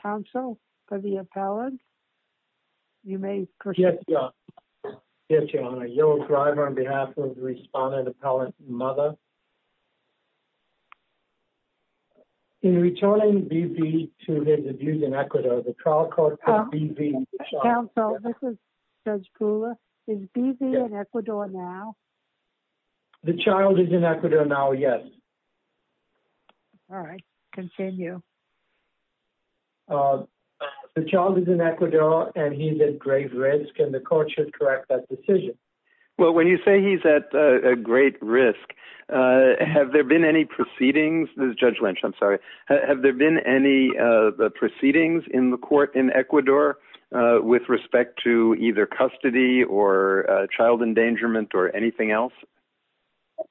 Council for the appellant. You may proceed. Yes. In returning B.B. to his abuse in Ecuador, the trial court called B.B. the child. Counsel, this is Judge Kula. Is B.B. in Ecuador now? The child is in Ecuador now, yes. All right. Continue. The child is in Ecuador, and he's at grave risk, and the court should correct that decision. Well, when you say he's at great risk, have there been any proceedings, Judge Lynch, I'm sorry, have there been any proceedings in the court in Ecuador with respect to either custody or child endangerment or anything else?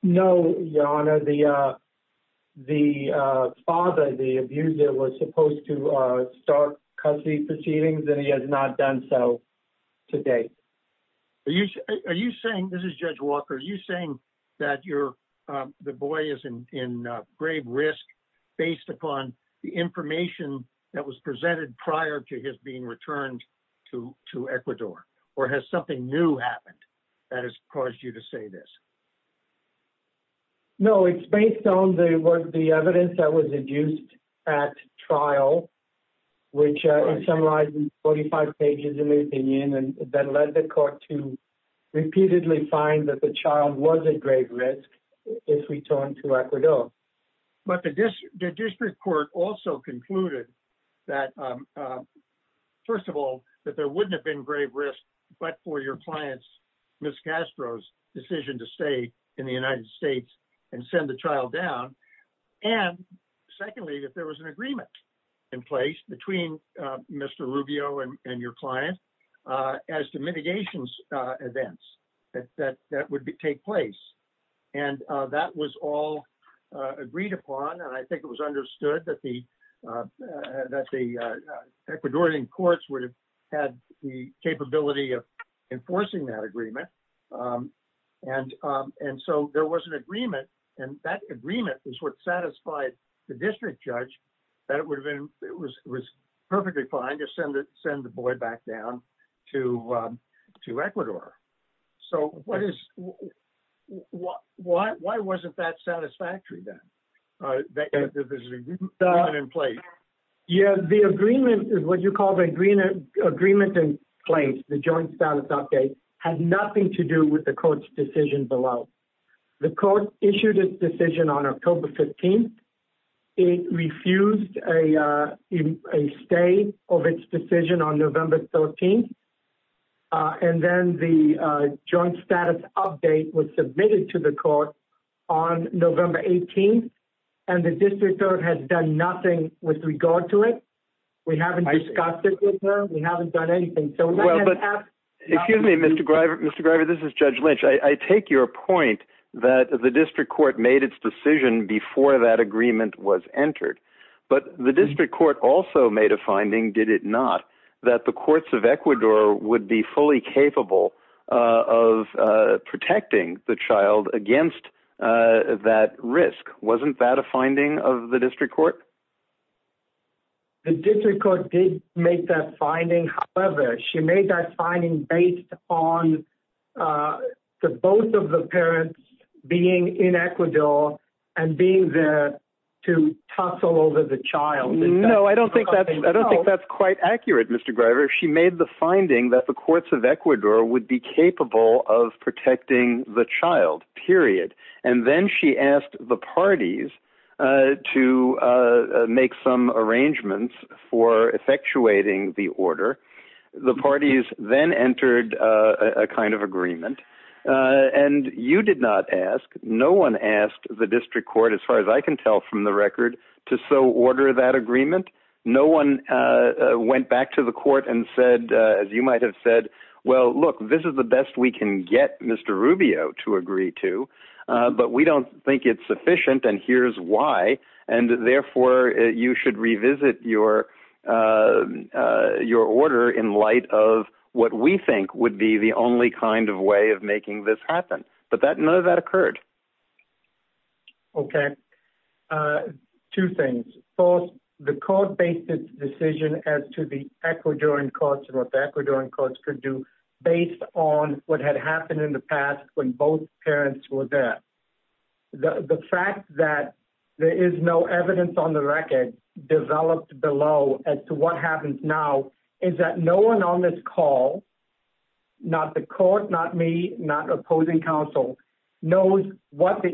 No, Your Honor. The father, the abuser, was supposed to start custody proceedings, and he has not done so to date. Are you saying, this is Judge Walker, are you saying that the boy is in grave risk based upon the information that was presented prior to his being returned to Ecuador, or has something new happened that has caused you to say this? No, it's based on the evidence that was adduced at trial, which is summarized in 45 pages in my opinion, and that led the court to repeatedly find that the child was at grave risk if returned to Ecuador. But the district court also concluded that, first of all, that there wouldn't have been grave risk but for your client's, Ms. Castro's, decision to stay in the United States and send the child down, and secondly, that there was an agreement in place between Mr. Rubio and your client as to mitigations events that would take place, and that was all agreed upon, and I think it was understood that the Ecuadorian courts would have had the capability of enforcing that agreement, and so there was an agreement, and that agreement is what sent the boy back down to Ecuador. So, why wasn't that satisfactory then, that there was an agreement in place? Yeah, the agreement, what you call the agreement in place, the joint status update, had nothing to do with the court's decision below. The court issued its decision on October 15th. It refused a stay of its decision on November 13th, and then the joint status update was submitted to the court on November 18th, and the district court has done nothing with regard to it. We haven't discussed it with her. We haven't done anything. Excuse me, Mr. Greiver, this is Judge Lynch. I take your point that the district court made its decision before that agreement was entered, but the district court also made a finding, did it not, that the courts of Ecuador would be fully capable of protecting the child against that risk. Wasn't that a finding of the district court? The district court did make that finding, however, she made that finding based on both of the parents being in Ecuador and being there to tussle over the child. No, I don't think that's quite accurate, Mr. Greiver. She made the finding that the courts of Ecuador would be capable of protecting the child, period. Then she asked the parties to make some arrangements for effectuating the order. The parties then entered a kind of agreement, and you did not ask. No one asked the district court, as far as I can tell from the record, to so order that agreement. No one went back to the court and said, as you might have said, well, look, this is the But we don't think it's sufficient, and here's why. And therefore, you should revisit your order in light of what we think would be the only kind of way of making this happen. But none of that occurred. Okay. Two things. First, the court based its decision as to the Ecuadorian courts and what the Ecuadorian The fact that there is no evidence on the record developed below as to what happens now is that no one on this call, not the court, not me, not opposing counsel, knows what the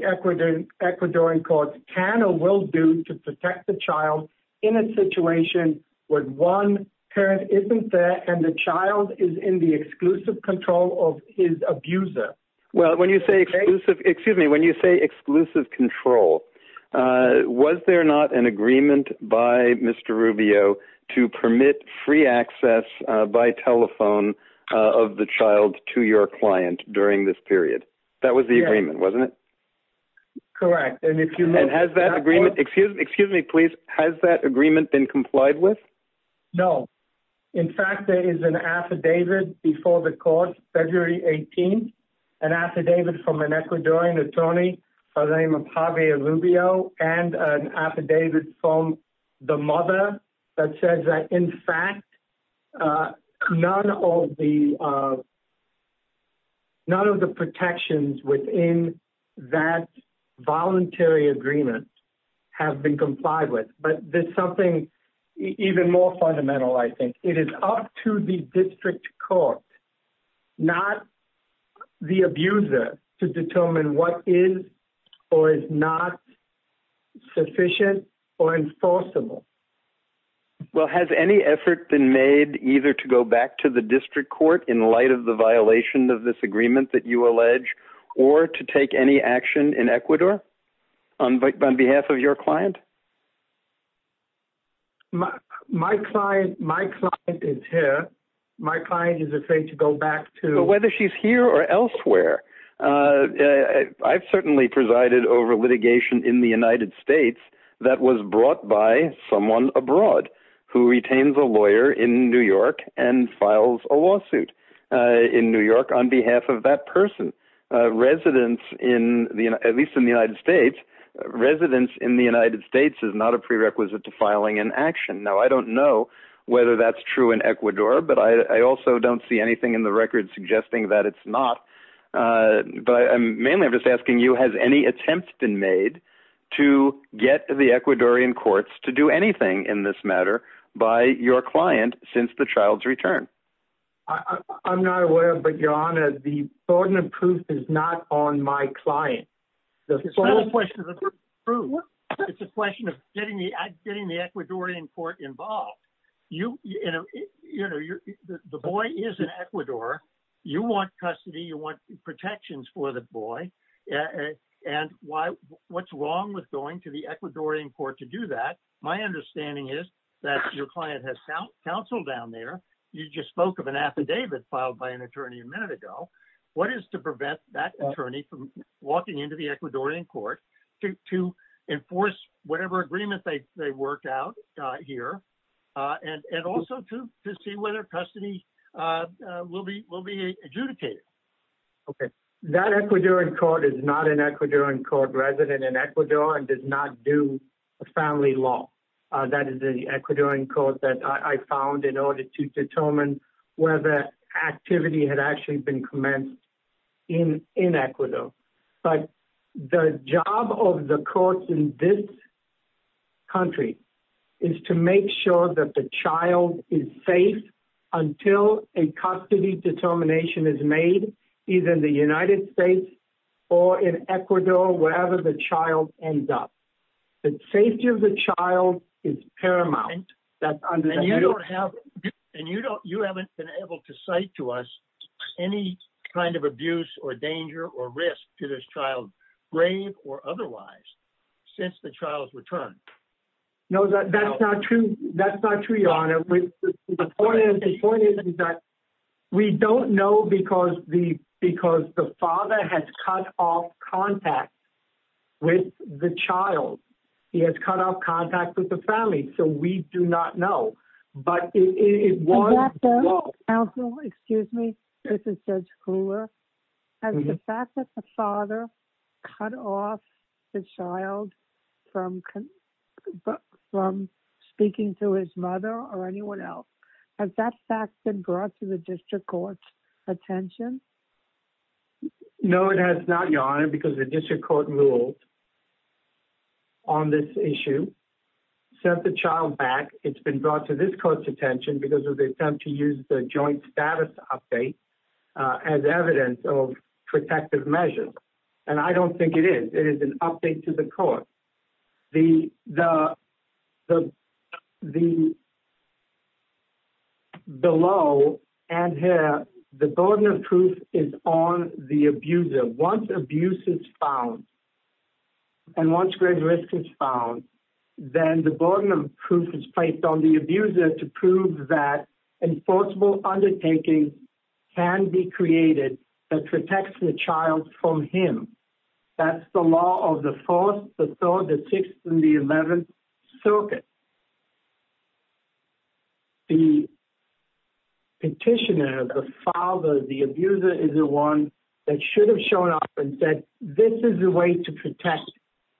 Ecuadorian courts can or will do to protect the child in a situation where one parent isn't there and the child is in the exclusive control of his abuser. Well, when you say exclusive, excuse me, when you say exclusive control, was there not an agreement by Mr. Rubio to permit free access by telephone of the child to your client during this period? That was the agreement, wasn't it? Correct. And if you have that agreement, excuse me, please. Has that agreement been complied with? No. In fact, there is an affidavit before the court, February 18th, an affidavit from an Ecuadorian attorney by the name of Javier Rubio and an affidavit from the mother that says that in fact, none of the protections within that voluntary agreement have been It is up to the district court, not the abuser, to determine what is or is not sufficient or enforceable. Well, has any effort been made either to go back to the district court in light of the violation of this agreement that you allege or to take any action in Ecuador on behalf of your client? My client is here. My client is afraid to go back to... But whether she's here or elsewhere, I've certainly presided over litigation in the United States that was brought by someone abroad who retains a lawyer in New York and files a lawsuit in New York on behalf of that person. At least in the United States, residence in the United States is not a prerequisite to filing an action. Now, I don't know whether that's true in Ecuador, but I also don't see anything in the record suggesting that it's not. But mainly I'm just asking you, has any attempt been made to get the Ecuadorian courts to do anything in this matter by your client since the child's return? I'm not aware, but Your Honor, the burden of proof is not on my client. It's not a question of the proof. It's a question of getting the Ecuadorian court involved. The boy is in Ecuador. You want custody. You want protections for the boy. And what's wrong with going to the Ecuadorian court to do that? My understanding is that your client has counsel down there. You just spoke of an affidavit filed by an attorney a minute ago. What is to prevent that attorney from walking into the Ecuadorian court to enforce whatever agreement they worked out here and also to see whether custody will be adjudicated? Okay. That Ecuadorian court is not an Ecuadorian court resident in Ecuador and does not do family law. That is the Ecuadorian court that I found in order to determine whether activity had actually been commenced in Ecuador. But the job of the courts in this country is to make sure that the child is safe until a custody determination is made, either in the United States or in Ecuador, wherever the child ends up. The safety of the child is paramount. And you haven't been able to cite to us any kind of abuse or danger or risk to this child, grave or otherwise, since the child's return. No, that's not true. That's not true, Your Honor. The point is that we don't know because the father has cut off contact with the child. He has cut off contact with the family. So we do not know. Counsel, excuse me. This is Judge Kluwer. Has the fact that the father cut off the child from speaking to his mother or anyone else, has that fact been brought to the district court's attention? No, it has not, Your Honor, because the district court ruled on this issue, sent the child back. It's been brought to this court's attention because of the attempt to use the joint status update as evidence of protective measures. And I don't think it is. It is an update to the court. Below and here, the burden of proof is on the abuser. Once abuse is found and once grave risk is found, then the burden of proof is placed on the abuser to prove that enforceable undertaking can be created that protects the child from him. That's the law of the Fourth, the Third, the Sixth, and the Eleventh Circuit. The petitioner, the father, the abuser is the one that should have shown up and said, this is the way to protect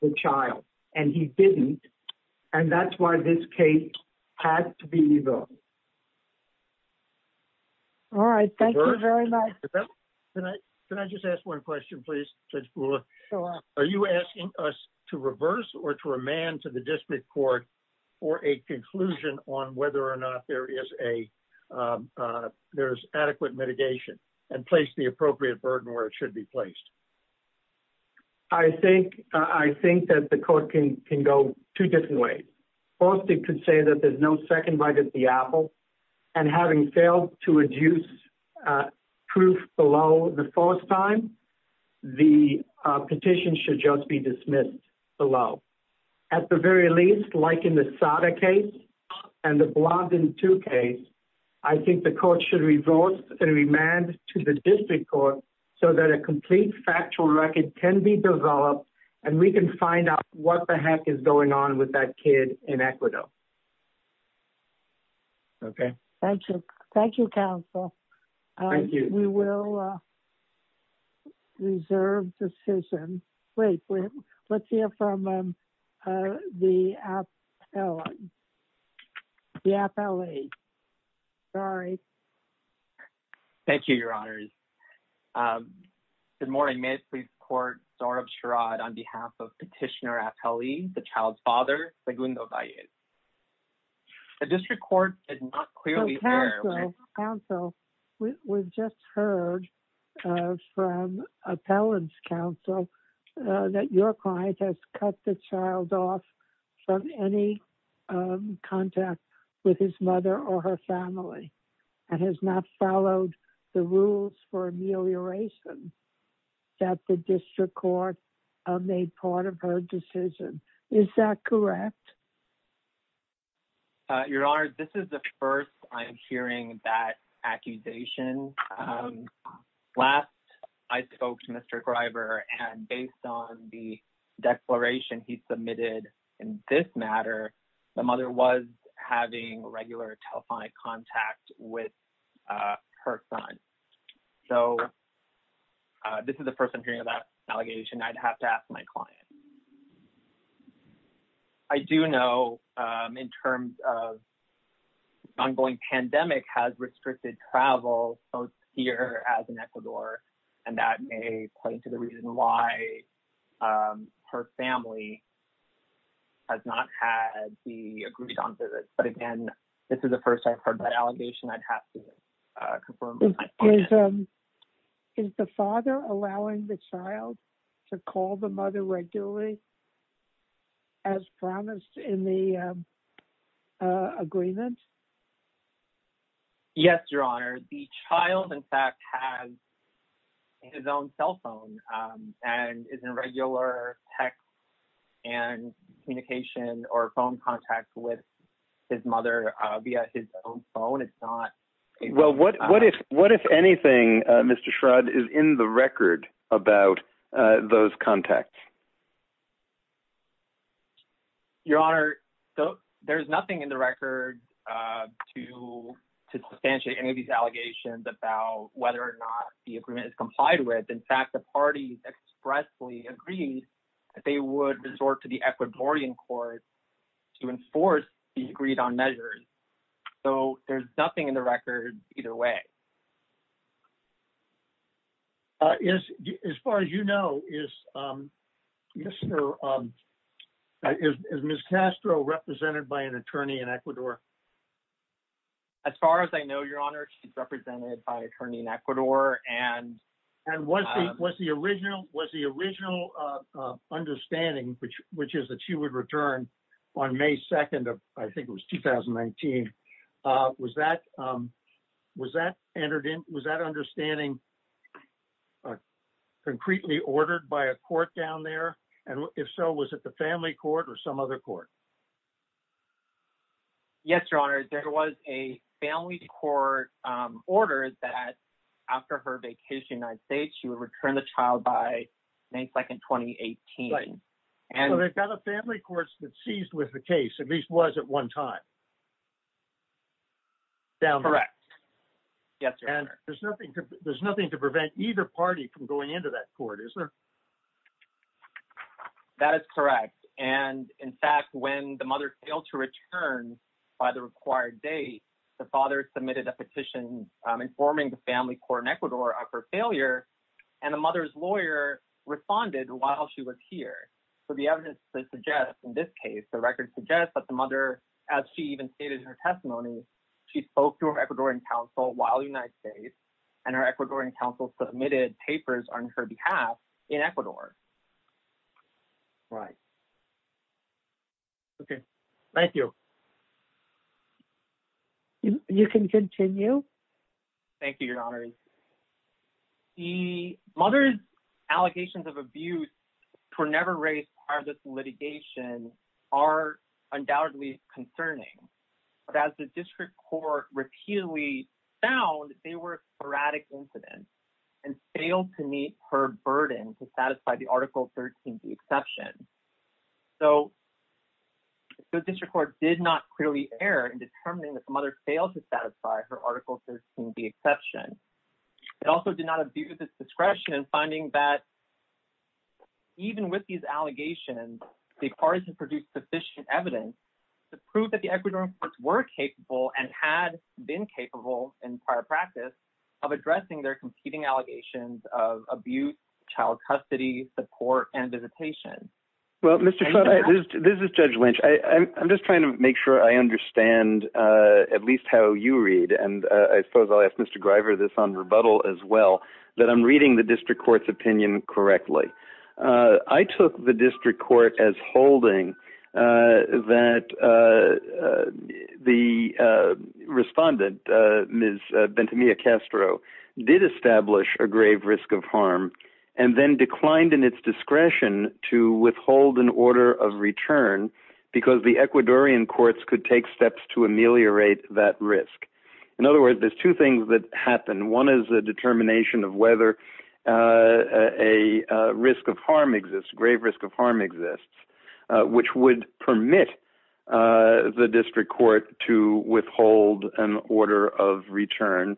the child. And he didn't. And that's why this case had to be moved. All right. Thank you very much. Can I just ask one question, please? Are you asking us to reverse or to remand to the district court for a conclusion on whether or not there is adequate mitigation and place the appropriate burden where it should be placed? I think that the court can go two different ways. First, it could say that there's no second right at the apple. And having failed to reduce proof below the first time, the petition should just be dismissed below. At the very least, like in the SADA case and the Blondin II case, I think the court should reverse and remand to the district court so that a complete factual record can be developed and we can find out what the heck is going on with that kid in Ecuador. Okay. Thank you. Thank you, counsel. Thank you. We will reserve decision. Let's hear from the appellate. Sorry. Thank you, Your Honors. Good morning. May I please report on behalf of petitioner appellee, the child's father. The district court is not clearly. Counsel, we just heard from appellant's counsel that your client has cut the child off from any contact with his mother or her family and has not followed the rules for amelioration that the district court made part of her decision. Is that correct? Your Honor, this is the first. I'm hearing that accusation. Last, I spoke to Mr. Greiber and based on the declaration he submitted in this matter, the mother was having regular telephonic contact with her son. So, this is the first I'm hearing of that allegation. I'd have to ask my client. I do know in terms of ongoing pandemic has restricted travel both here as in Ecuador. And that may point to the reason why her family has not had the agreed on visits. But again, this is the first I've heard that allegation. I'd have to confirm. Is the father allowing the child to call the mother regularly as promised in the agreement? Yes, Your Honor. The child in fact has his own cell phone and is in regular text and communication or phone contact with his mother via his own phone. Well, what if anything, Mr. Schrodt, is in the record about those contacts? Your Honor, there's nothing in the record to substantiate any of these allegations about whether or not the agreement is complied with. In fact, the parties expressly agreed that they would resort to the Ecuadorian court to enforce the agreed on measures. So there's nothing in the record either way. Yes. As far as you know, is Mr. Is Miss Castro represented by an attorney in Ecuador? As far as I know, Your Honor, she's represented by an attorney in Ecuador. And was the original understanding, which is that she would return on May 2nd, I think it was 2019, was that understanding concretely ordered by a court down there? And if so, was it the family court or some other court? Yes, Your Honor. Your Honor, there was a family court order that after her vacation in the United States, she would return the child by May 2nd, 2018. So they've got a family court that seized with the case, at least was at one time. Correct. Yes, Your Honor. And there's nothing to prevent either party from going into that court, is there? That is correct. And in fact, when the mother failed to return by the required date, the father submitted a petition informing the family court in Ecuador of her failure. And the mother's lawyer responded while she was here. So the evidence suggests in this case, the record suggests that the mother, as she even stated in her testimony, she spoke to her Ecuadorian counsel while in the United States. And her Ecuadorian counsel submitted papers on her behalf in Ecuador. Right. Okay. Thank you. You can continue. Thank you, Your Honor. The mother's allegations of abuse for never raised part of this litigation are undoubtedly concerning. But as the district court repeatedly found, they were sporadic incidents and failed to meet her burden to satisfy the Article 13b exception. So the district court did not clearly err in determining that the mother failed to satisfy her Article 13b exception. It also did not abuse its discretion in finding that even with these allegations, the parties have produced sufficient evidence to prove that the Ecuadorian courts were capable and had been capable in prior practice of addressing their competing allegations of abuse, child custody, support and visitation. Well, Mr. This is Judge Lynch. I'm just trying to make sure I understand at least how you read. And I suppose I'll ask Mr. Greiver this on rebuttal as well, that I'm reading the district court's opinion correctly. I took the district court as holding that the respondent, Ms. Benthamia Castro, did establish a grave risk of harm and then declined in its discretion to withhold an order of return because the Ecuadorian courts could take steps to ameliorate that risk. In other words, there's two things that happen. One is the determination of whether a risk of harm exists, grave risk of harm exists, which would permit the district court to withhold an order of return.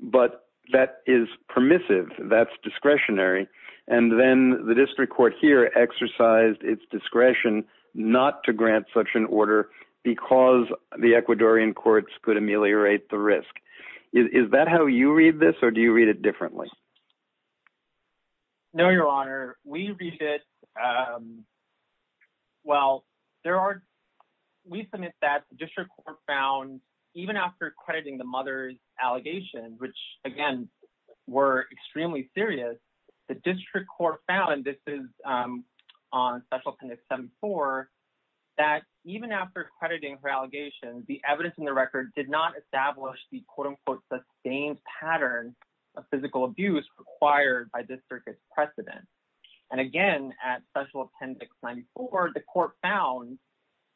But that is permissive. That's discretionary. And then the district court here exercised its discretion not to grant such an order because the Ecuadorian courts could ameliorate the risk. Is that how you read this or do you read it differently? No, Your Honor. We read it. Well, there are. We submit that the district court found even after crediting the mother's allegations, which, again, were extremely serious, the district court found this is on special accrediting for allegations. The evidence in the record did not establish the quote unquote sustained pattern of physical abuse required by this circuit precedent. And again, at Special Appendix 94, the court found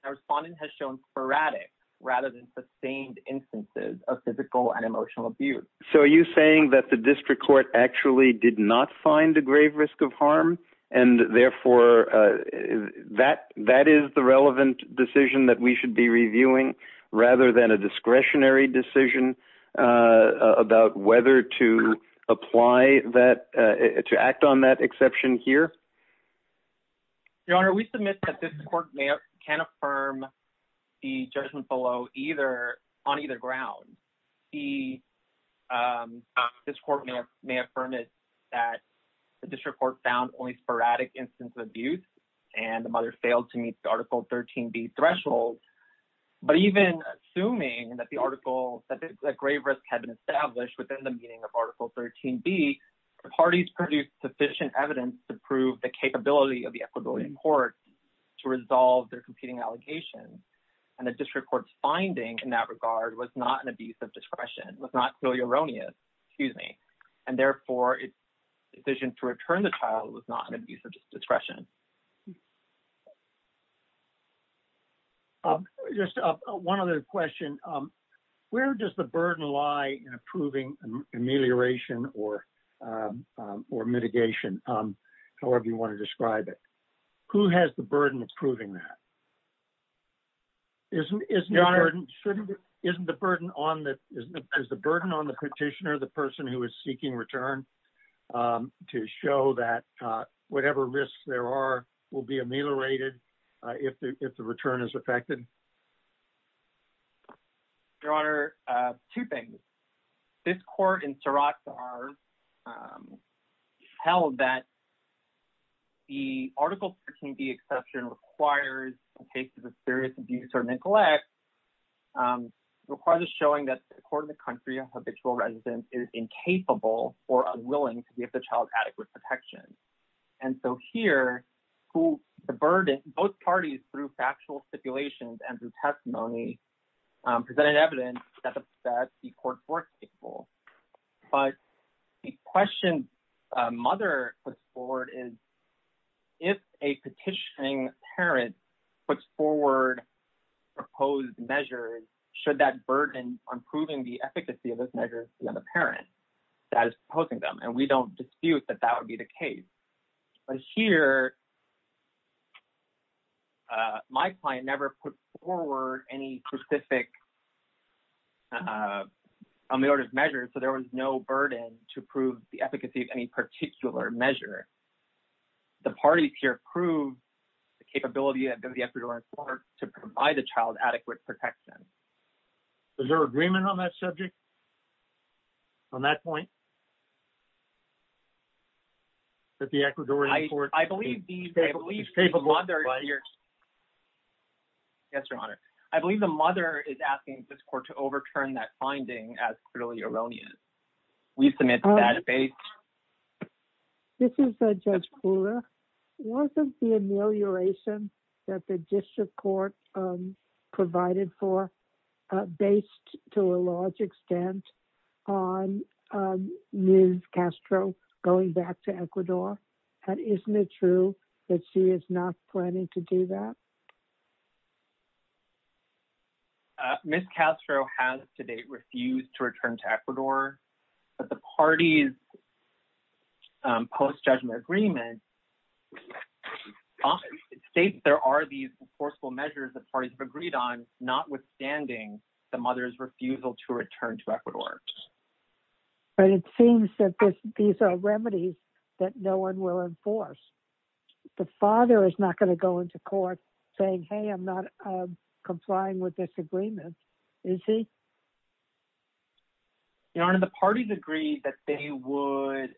a respondent has shown sporadic rather than sustained instances of physical and emotional abuse. So are you saying that the district court actually did not find a grave risk of harm and therefore that that is the relevant decision that we should be reviewing rather than a discretionary decision about whether to apply that to act on that exception here? Your Honor, we submit that this court can affirm the judgment below either on either ground. This court may affirm it that the district court found only sporadic instances of abuse and the mother failed to meet the Article 13b threshold. But even assuming that the article that the grave risk had been established within the meaning of Article 13b, the parties produced sufficient evidence to prove the capability of the Ecuadorian court to resolve their competing allegations. And the district court's finding in that regard was not an abuse of discretion, was not clearly erroneous. Excuse me. And therefore, the decision to return the child was not an abuse of discretion. Just one other question. Where does the burden lie in approving amelioration or mitigation, however you want to describe it? Who has the burden of proving that? Isn't isn't shouldn't isn't the burden on that is the burden on the petitioner, the person who is seeking return to show that whatever risks there are will be ameliorated if the return is affected. Your Honor, two things. This court in Saratsar held that the Article 13b exception requires in cases of serious abuse or neglect, requires showing that the court of the country of habitual residence is incapable or unwilling to give the child adequate protection. And so here, the burden, both parties through factual stipulations and through testimony presented evidence that the court was capable. But the question mother put forward is if a petitioning parent puts forward proposed measures, should that burden on proving the efficacy of those measures be on the parent that is proposing them? And we don't dispute that that would be the case. But here, my client never put forward any specific ameliorative measures, so there was no burden to prove the efficacy of any particular measure. The parties here prove the capability and the ability to provide the child adequate protection. Is there agreement on that subject? On that point? I believe the mother is asking this court to overturn that finding as clearly erroneous. We submit to that base. This is Judge Kula. Wasn't the amelioration that the district court provided for based to a large extent on Ms. Castro going back to Ecuador? And isn't it true that she is not planning to do that? Ms. Castro has to date refused to return to Ecuador. But the parties post-judgment agreement states there are these forceful measures that parties have agreed on, notwithstanding the mother's refusal to return to Ecuador. But it seems that these are remedies that no one will enforce. The father is not going to go into court saying, hey, I'm not complying with this agreement. Is he? The parties agree that they would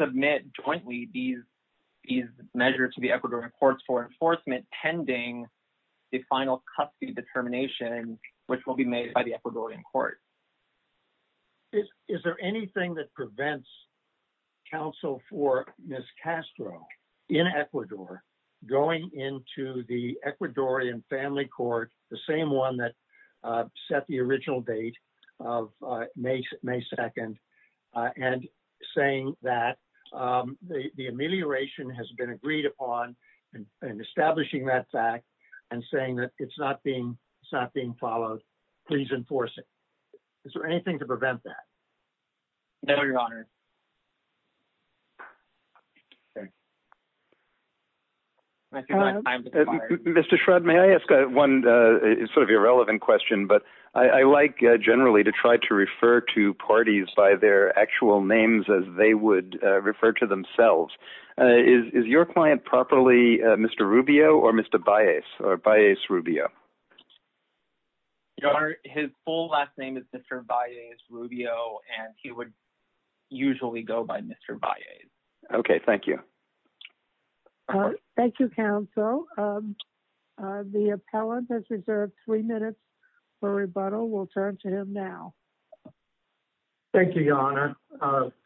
submit jointly these measures to the Ecuadorian courts for enforcement pending the final custody determination, which will be made by the Ecuadorian court. Is there anything that prevents counsel for Ms. Castro in Ecuador going into the Ecuadorian family court, the same one that set the original date of May 2nd, and saying that the amelioration has been agreed upon and establishing that fact and saying that it's not being followed. Please enforce it. Is there anything to prevent that? No, Your Honor. Mr. Shradd, may I ask one sort of irrelevant question? But I like generally to try to refer to parties by their actual names as they would refer to themselves. Is your client properly Mr. Rubio or Mr. Baez or Baez Rubio? Your Honor, his full last name is Mr. Baez Rubio, and he would usually go by Mr. Baez. Okay. Thank you. Thank you, counsel. The appellant has reserved three minutes for rebuttal. We'll turn to him now. Thank you, Your Honor.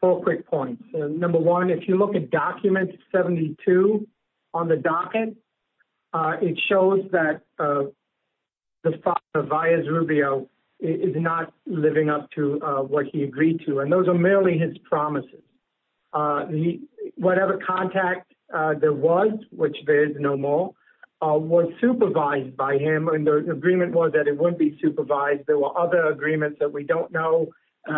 Four quick points. Number one, if you look at document 72 on the docket, it shows that the father, Baez Rubio, is not living up to what he agreed to, and those are merely his promises. Whatever contact there was, which there is no more, was supervised by him, and the agreement was that it wouldn't be supervised. There were other agreements that we don't know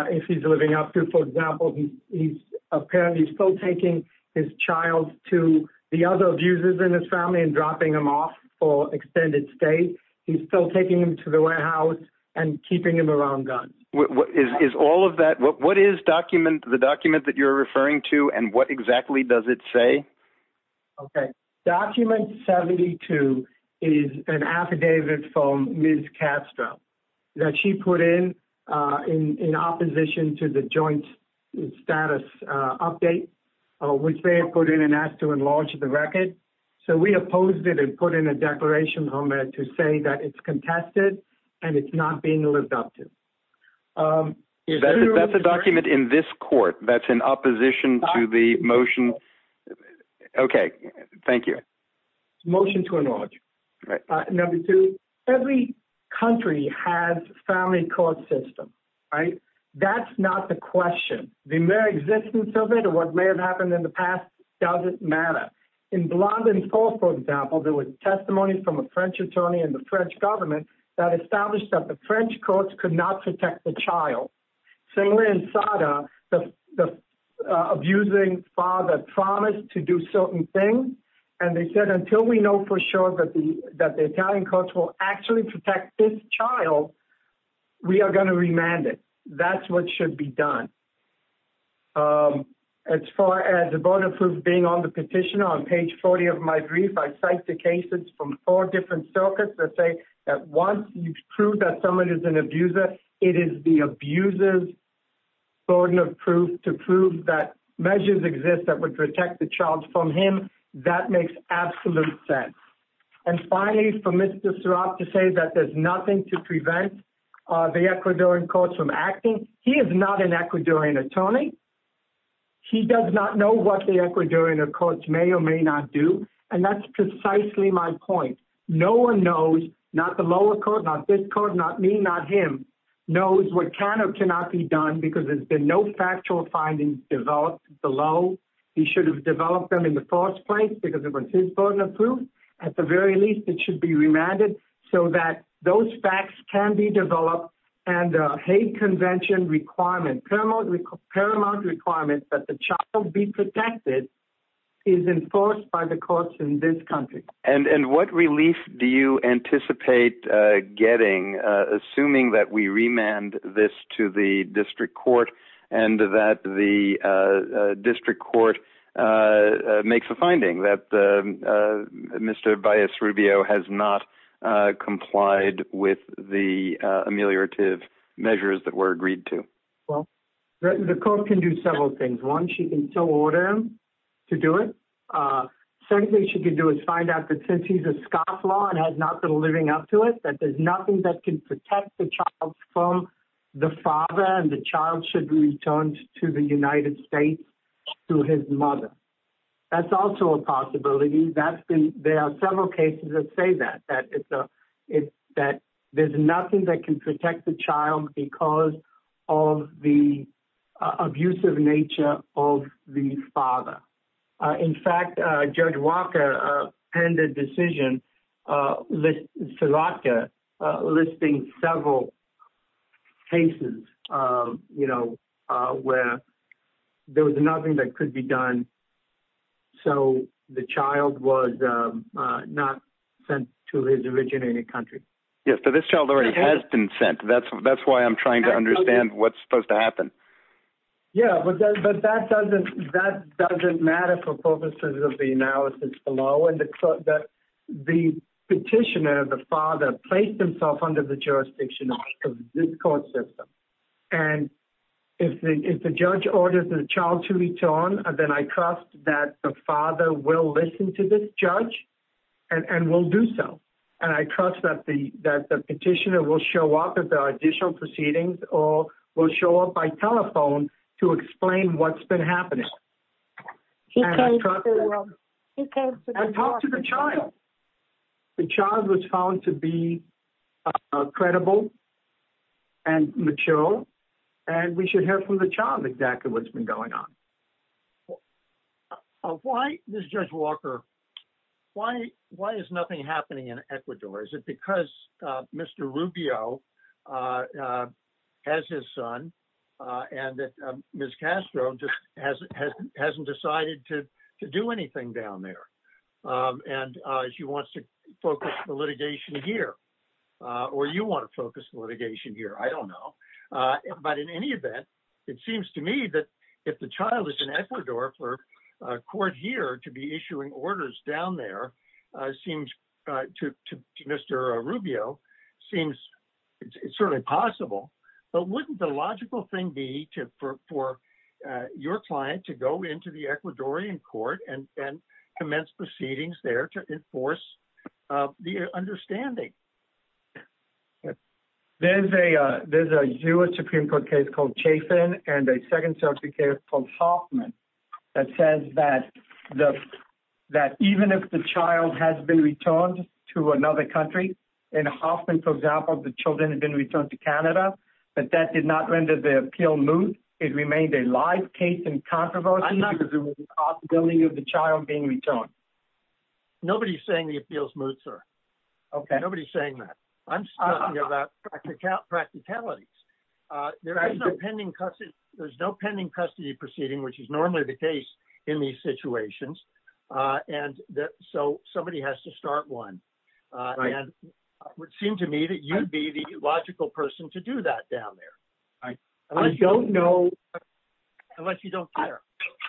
if he's living up to. For example, he's apparently still taking his child to the other abusers in his family and dropping them off for extended stay. He's still taking them to the warehouse and keeping them around guns. Is all of that – what is the document that you're referring to, and what exactly does it say? Okay. Document 72 is an affidavit from Ms. Castro that she put in in opposition to the joint status update, which they have put in and asked to enlarge the record. So we opposed it and put in a declaration to say that it's contested and it's not being lived up to. That's a document in this court that's in opposition to the motion? Okay. Thank you. It's a motion to enlarge. Number two, every country has a family court system. That's not the question. The mere existence of it or what may have happened in the past doesn't matter. In Blondin Falls, for example, there was testimony from a French attorney and the French government that established that the French courts could not protect the child. Similar in SADA, the abusing father promised to do certain things, and they said, until we know for sure that the Italian courts will actually protect this child, we are going to remand it. That's what should be done. As far as the voter proof being on the petition, on page 40 of my brief, I cite the cases from four different circuits that say that once you prove that someone is an abuser, it is the abuser's burden of proof to prove that measures exist that would protect the child from him. That makes absolute sense. And finally, for Mr. Seraf to say that there's nothing to prevent the Ecuadorian courts from acting, he is not an Ecuadorian attorney. He does not know what the Ecuadorian courts may or may not do, and that's precisely my point. No one knows, not the lower court, not this court, not me, not him, knows what can or cannot be done because there's been no factual findings developed below. He should have developed them in the first place because it was his burden of proof. At the very least, it should be remanded so that those facts can be developed, and a hate convention requirement, paramount requirement that the child be protected is enforced by the courts in this country. And what relief do you anticipate getting, assuming that we remand this to the district court and that the district court makes a finding that Mr. Baez Rubio has not complied with the ameliorative measures that were agreed to? Well, the court can do several things. One, she can still order him to do it. Second thing she can do is find out that since he's a scofflaw and has not been living up to it, that there's nothing that can protect the child from the father, and the child should be returned to the United States to his mother. That's also a possibility. There are several cases that say that, that there's nothing that can protect the child because of the abusive nature of the father. In fact, Judge Walker penned a decision listing several cases, you know, where there was nothing that could be done. So the child was not sent to his originating country. Yes, so this child already has been sent. That's why I'm trying to understand what's supposed to happen. Yeah, but that doesn't matter for purposes of the analysis below. The petitioner, the father, placed himself under the jurisdiction of this court system. And if the judge orders the child to return, then I trust that the father will listen to this judge and will do so. And I trust that the petitioner will show up at the additional proceedings or will show up by telephone to explain what's been happening. He came to the child. The child was found to be credible and mature, and we should hear from the child exactly what's been going on. Why, Judge Walker, why is nothing happening in Ecuador? Is it because Mr. Rubio has his son and that Ms. Castro hasn't decided to do anything down there? And she wants to focus the litigation here. Or you want to focus the litigation here. I don't know. But in any event, it seems to me that if the child is in Ecuador for a court here to be issuing orders down there, seems to Mr. Rubio, seems certainly possible. But wouldn't the logical thing be for your client to go into the Ecuadorian court and commence proceedings there to enforce the understanding? There's a U.S. Supreme Court case called Chafin and a second circuit case called Hoffman that says that even if the child has been returned to another country, in Hoffman, for example, the children have been returned to Canada, but that did not render the appeal moot. It remained a live case in controversy because of the possibility of the child being returned. Nobody is saying the appeal is moot, sir. Nobody is saying that. I'm talking about practicalities. There's no pending custody proceeding, which is normally the case in these situations. And so somebody has to start one. And it would seem to me that you would be the logical person to do that down there. I don't know. Unless you don't care.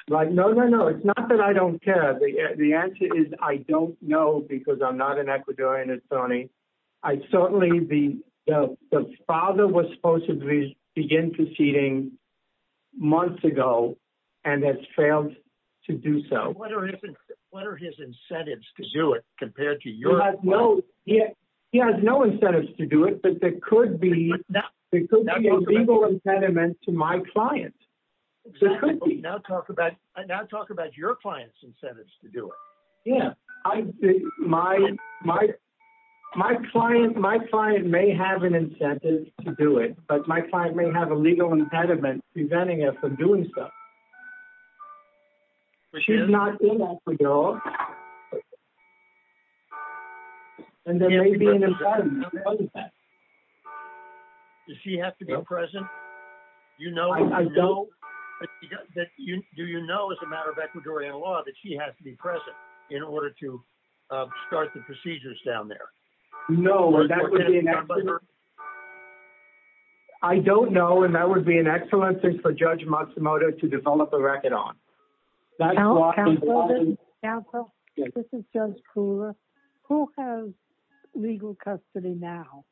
No, no, no. It's not that I don't care. The answer is I don't know because I'm not an Ecuadorian attorney. Certainly the father was supposed to begin proceeding months ago and has failed to do so. What are his incentives to do it compared to your client? He has no incentives to do it, but there could be a legal impediment to my client. Now talk about your client's incentives to do it. My client may have an incentive to do it, but my client may have a legal impediment preventing her from doing so. She's not in Ecuador. And there may be an impediment. Does she have to be present? Do you know as a matter of Ecuadorian law that she has to be present in order to start the procedures down there? No. I don't know. And that would be an excellent thing for Judge Matsumoto to develop a record on. Counsel, this is Judge Kula. Who has legal custody now?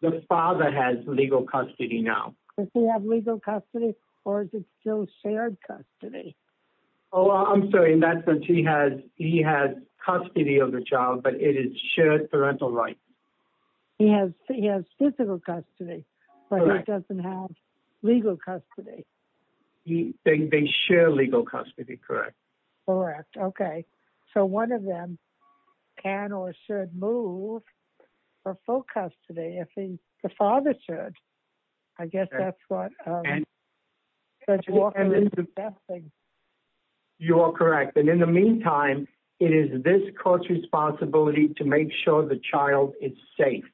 The father has legal custody now. Does he have legal custody or is it still shared custody? Oh, I'm sorry. He has custody of the child, but it is shared parental rights. He has physical custody, but he doesn't have legal custody. They share legal custody, correct? Correct. Okay. So one of them can or should move for full custody if the father should. I guess that's what Judge Walker is assessing. You're correct. And in the meantime, it is this court's responsibility to make sure the child is safe.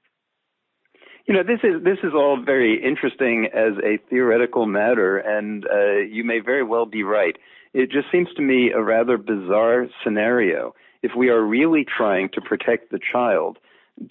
You know, this is all very interesting as a theoretical matter, and you may very well be right. It just seems to me a rather bizarre scenario if we are really trying to protect the child.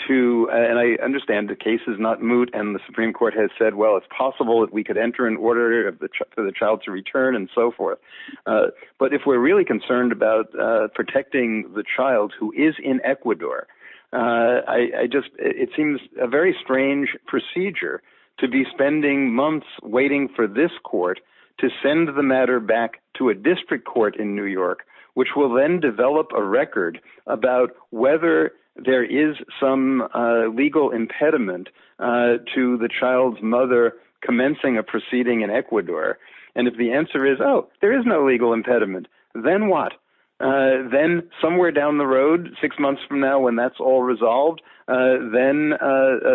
And I understand the case is not moot and the Supreme Court has said, well, it's possible that we could enter an order for the child to return and so forth. But if we're really concerned about protecting the child who is in Ecuador, it seems a very strange procedure to be spending months waiting for this court to send the matter back to a district court in New York, which will then develop a record about whether there is some legal impediment to the child's mother commencing a proceeding in Ecuador. And if the answer is, oh, there is no legal impediment, then what? Then somewhere down the road, six months from now, when that's all resolved, then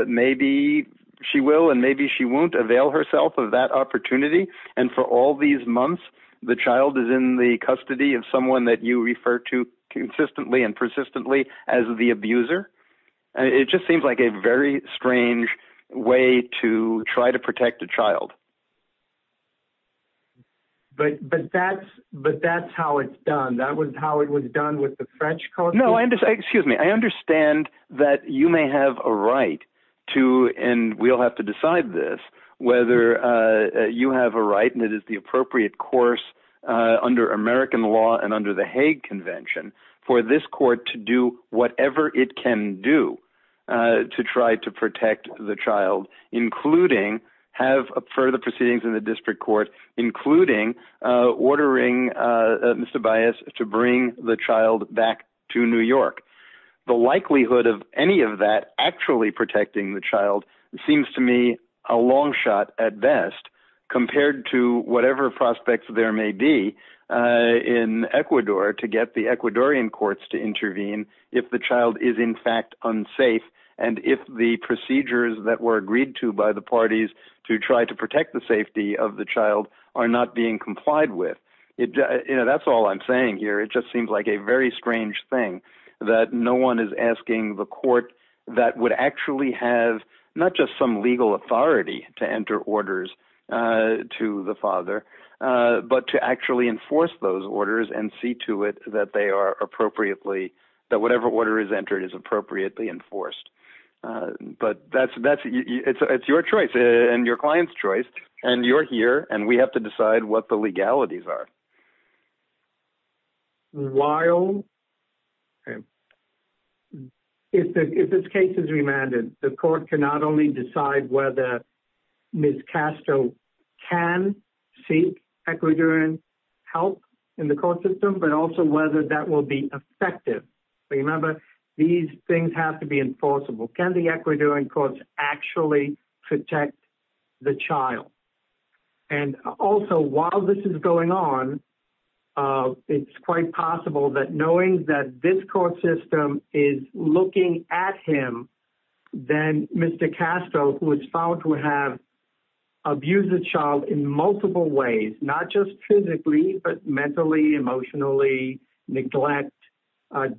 maybe she will and maybe she won't avail herself of that opportunity. And for all these months, the child is in the custody of someone that you refer to consistently and persistently as the abuser. It just seems like a very strange way to try to protect a child. But but that's but that's how it's done. That was how it was done with the French. No, I understand. Excuse me. I understand that you may have a right to. And we'll have to decide this, whether you have a right. And it is the appropriate course under American law and under the Hague Convention for this court to do whatever it can do to try to protect the child, including have a further proceedings in the district court, including ordering Mr. Bias to bring the child back to New York. The likelihood of any of that actually protecting the child seems to me a long shot at best compared to whatever prospects there may be in Ecuador to get the Ecuadorian courts to intervene. If the child is, in fact, unsafe and if the procedures that were agreed to by the parties to try to protect the safety of the child are not being complied with it. You know, that's all I'm saying here. It just seems like a very strange thing that no one is asking the court that would actually have not just some legal authority to enter orders to the father, but to actually enforce those orders and see to it that they are appropriately that whatever order is entered is appropriately enforced. But that's that's it's your choice and your client's choice. And you're here and we have to decide what the legalities are. While if this case is remanded, the court cannot only decide whether Ms. Castro can seek Ecuadorian help in the court system, but also whether that will be effective. Remember, these things have to be enforceable. Can the Ecuadorian courts actually protect the child? And also, while this is going on, it's quite possible that knowing that this court system is looking at him, then Mr. Castro, who is found to have abused the child in multiple ways, not just physically, but mentally, emotionally, neglect,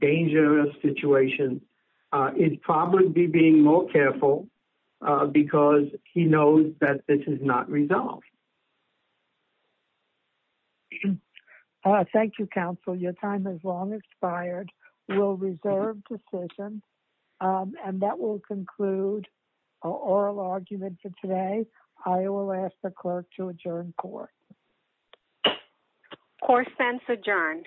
dangerous situations, is probably being more careful because he knows that this is not resolved. Thank you, counsel. Your time has long expired. We'll reserve decision. And that will conclude our argument for today. I will ask the clerk to adjourn court. Court sents adjourned.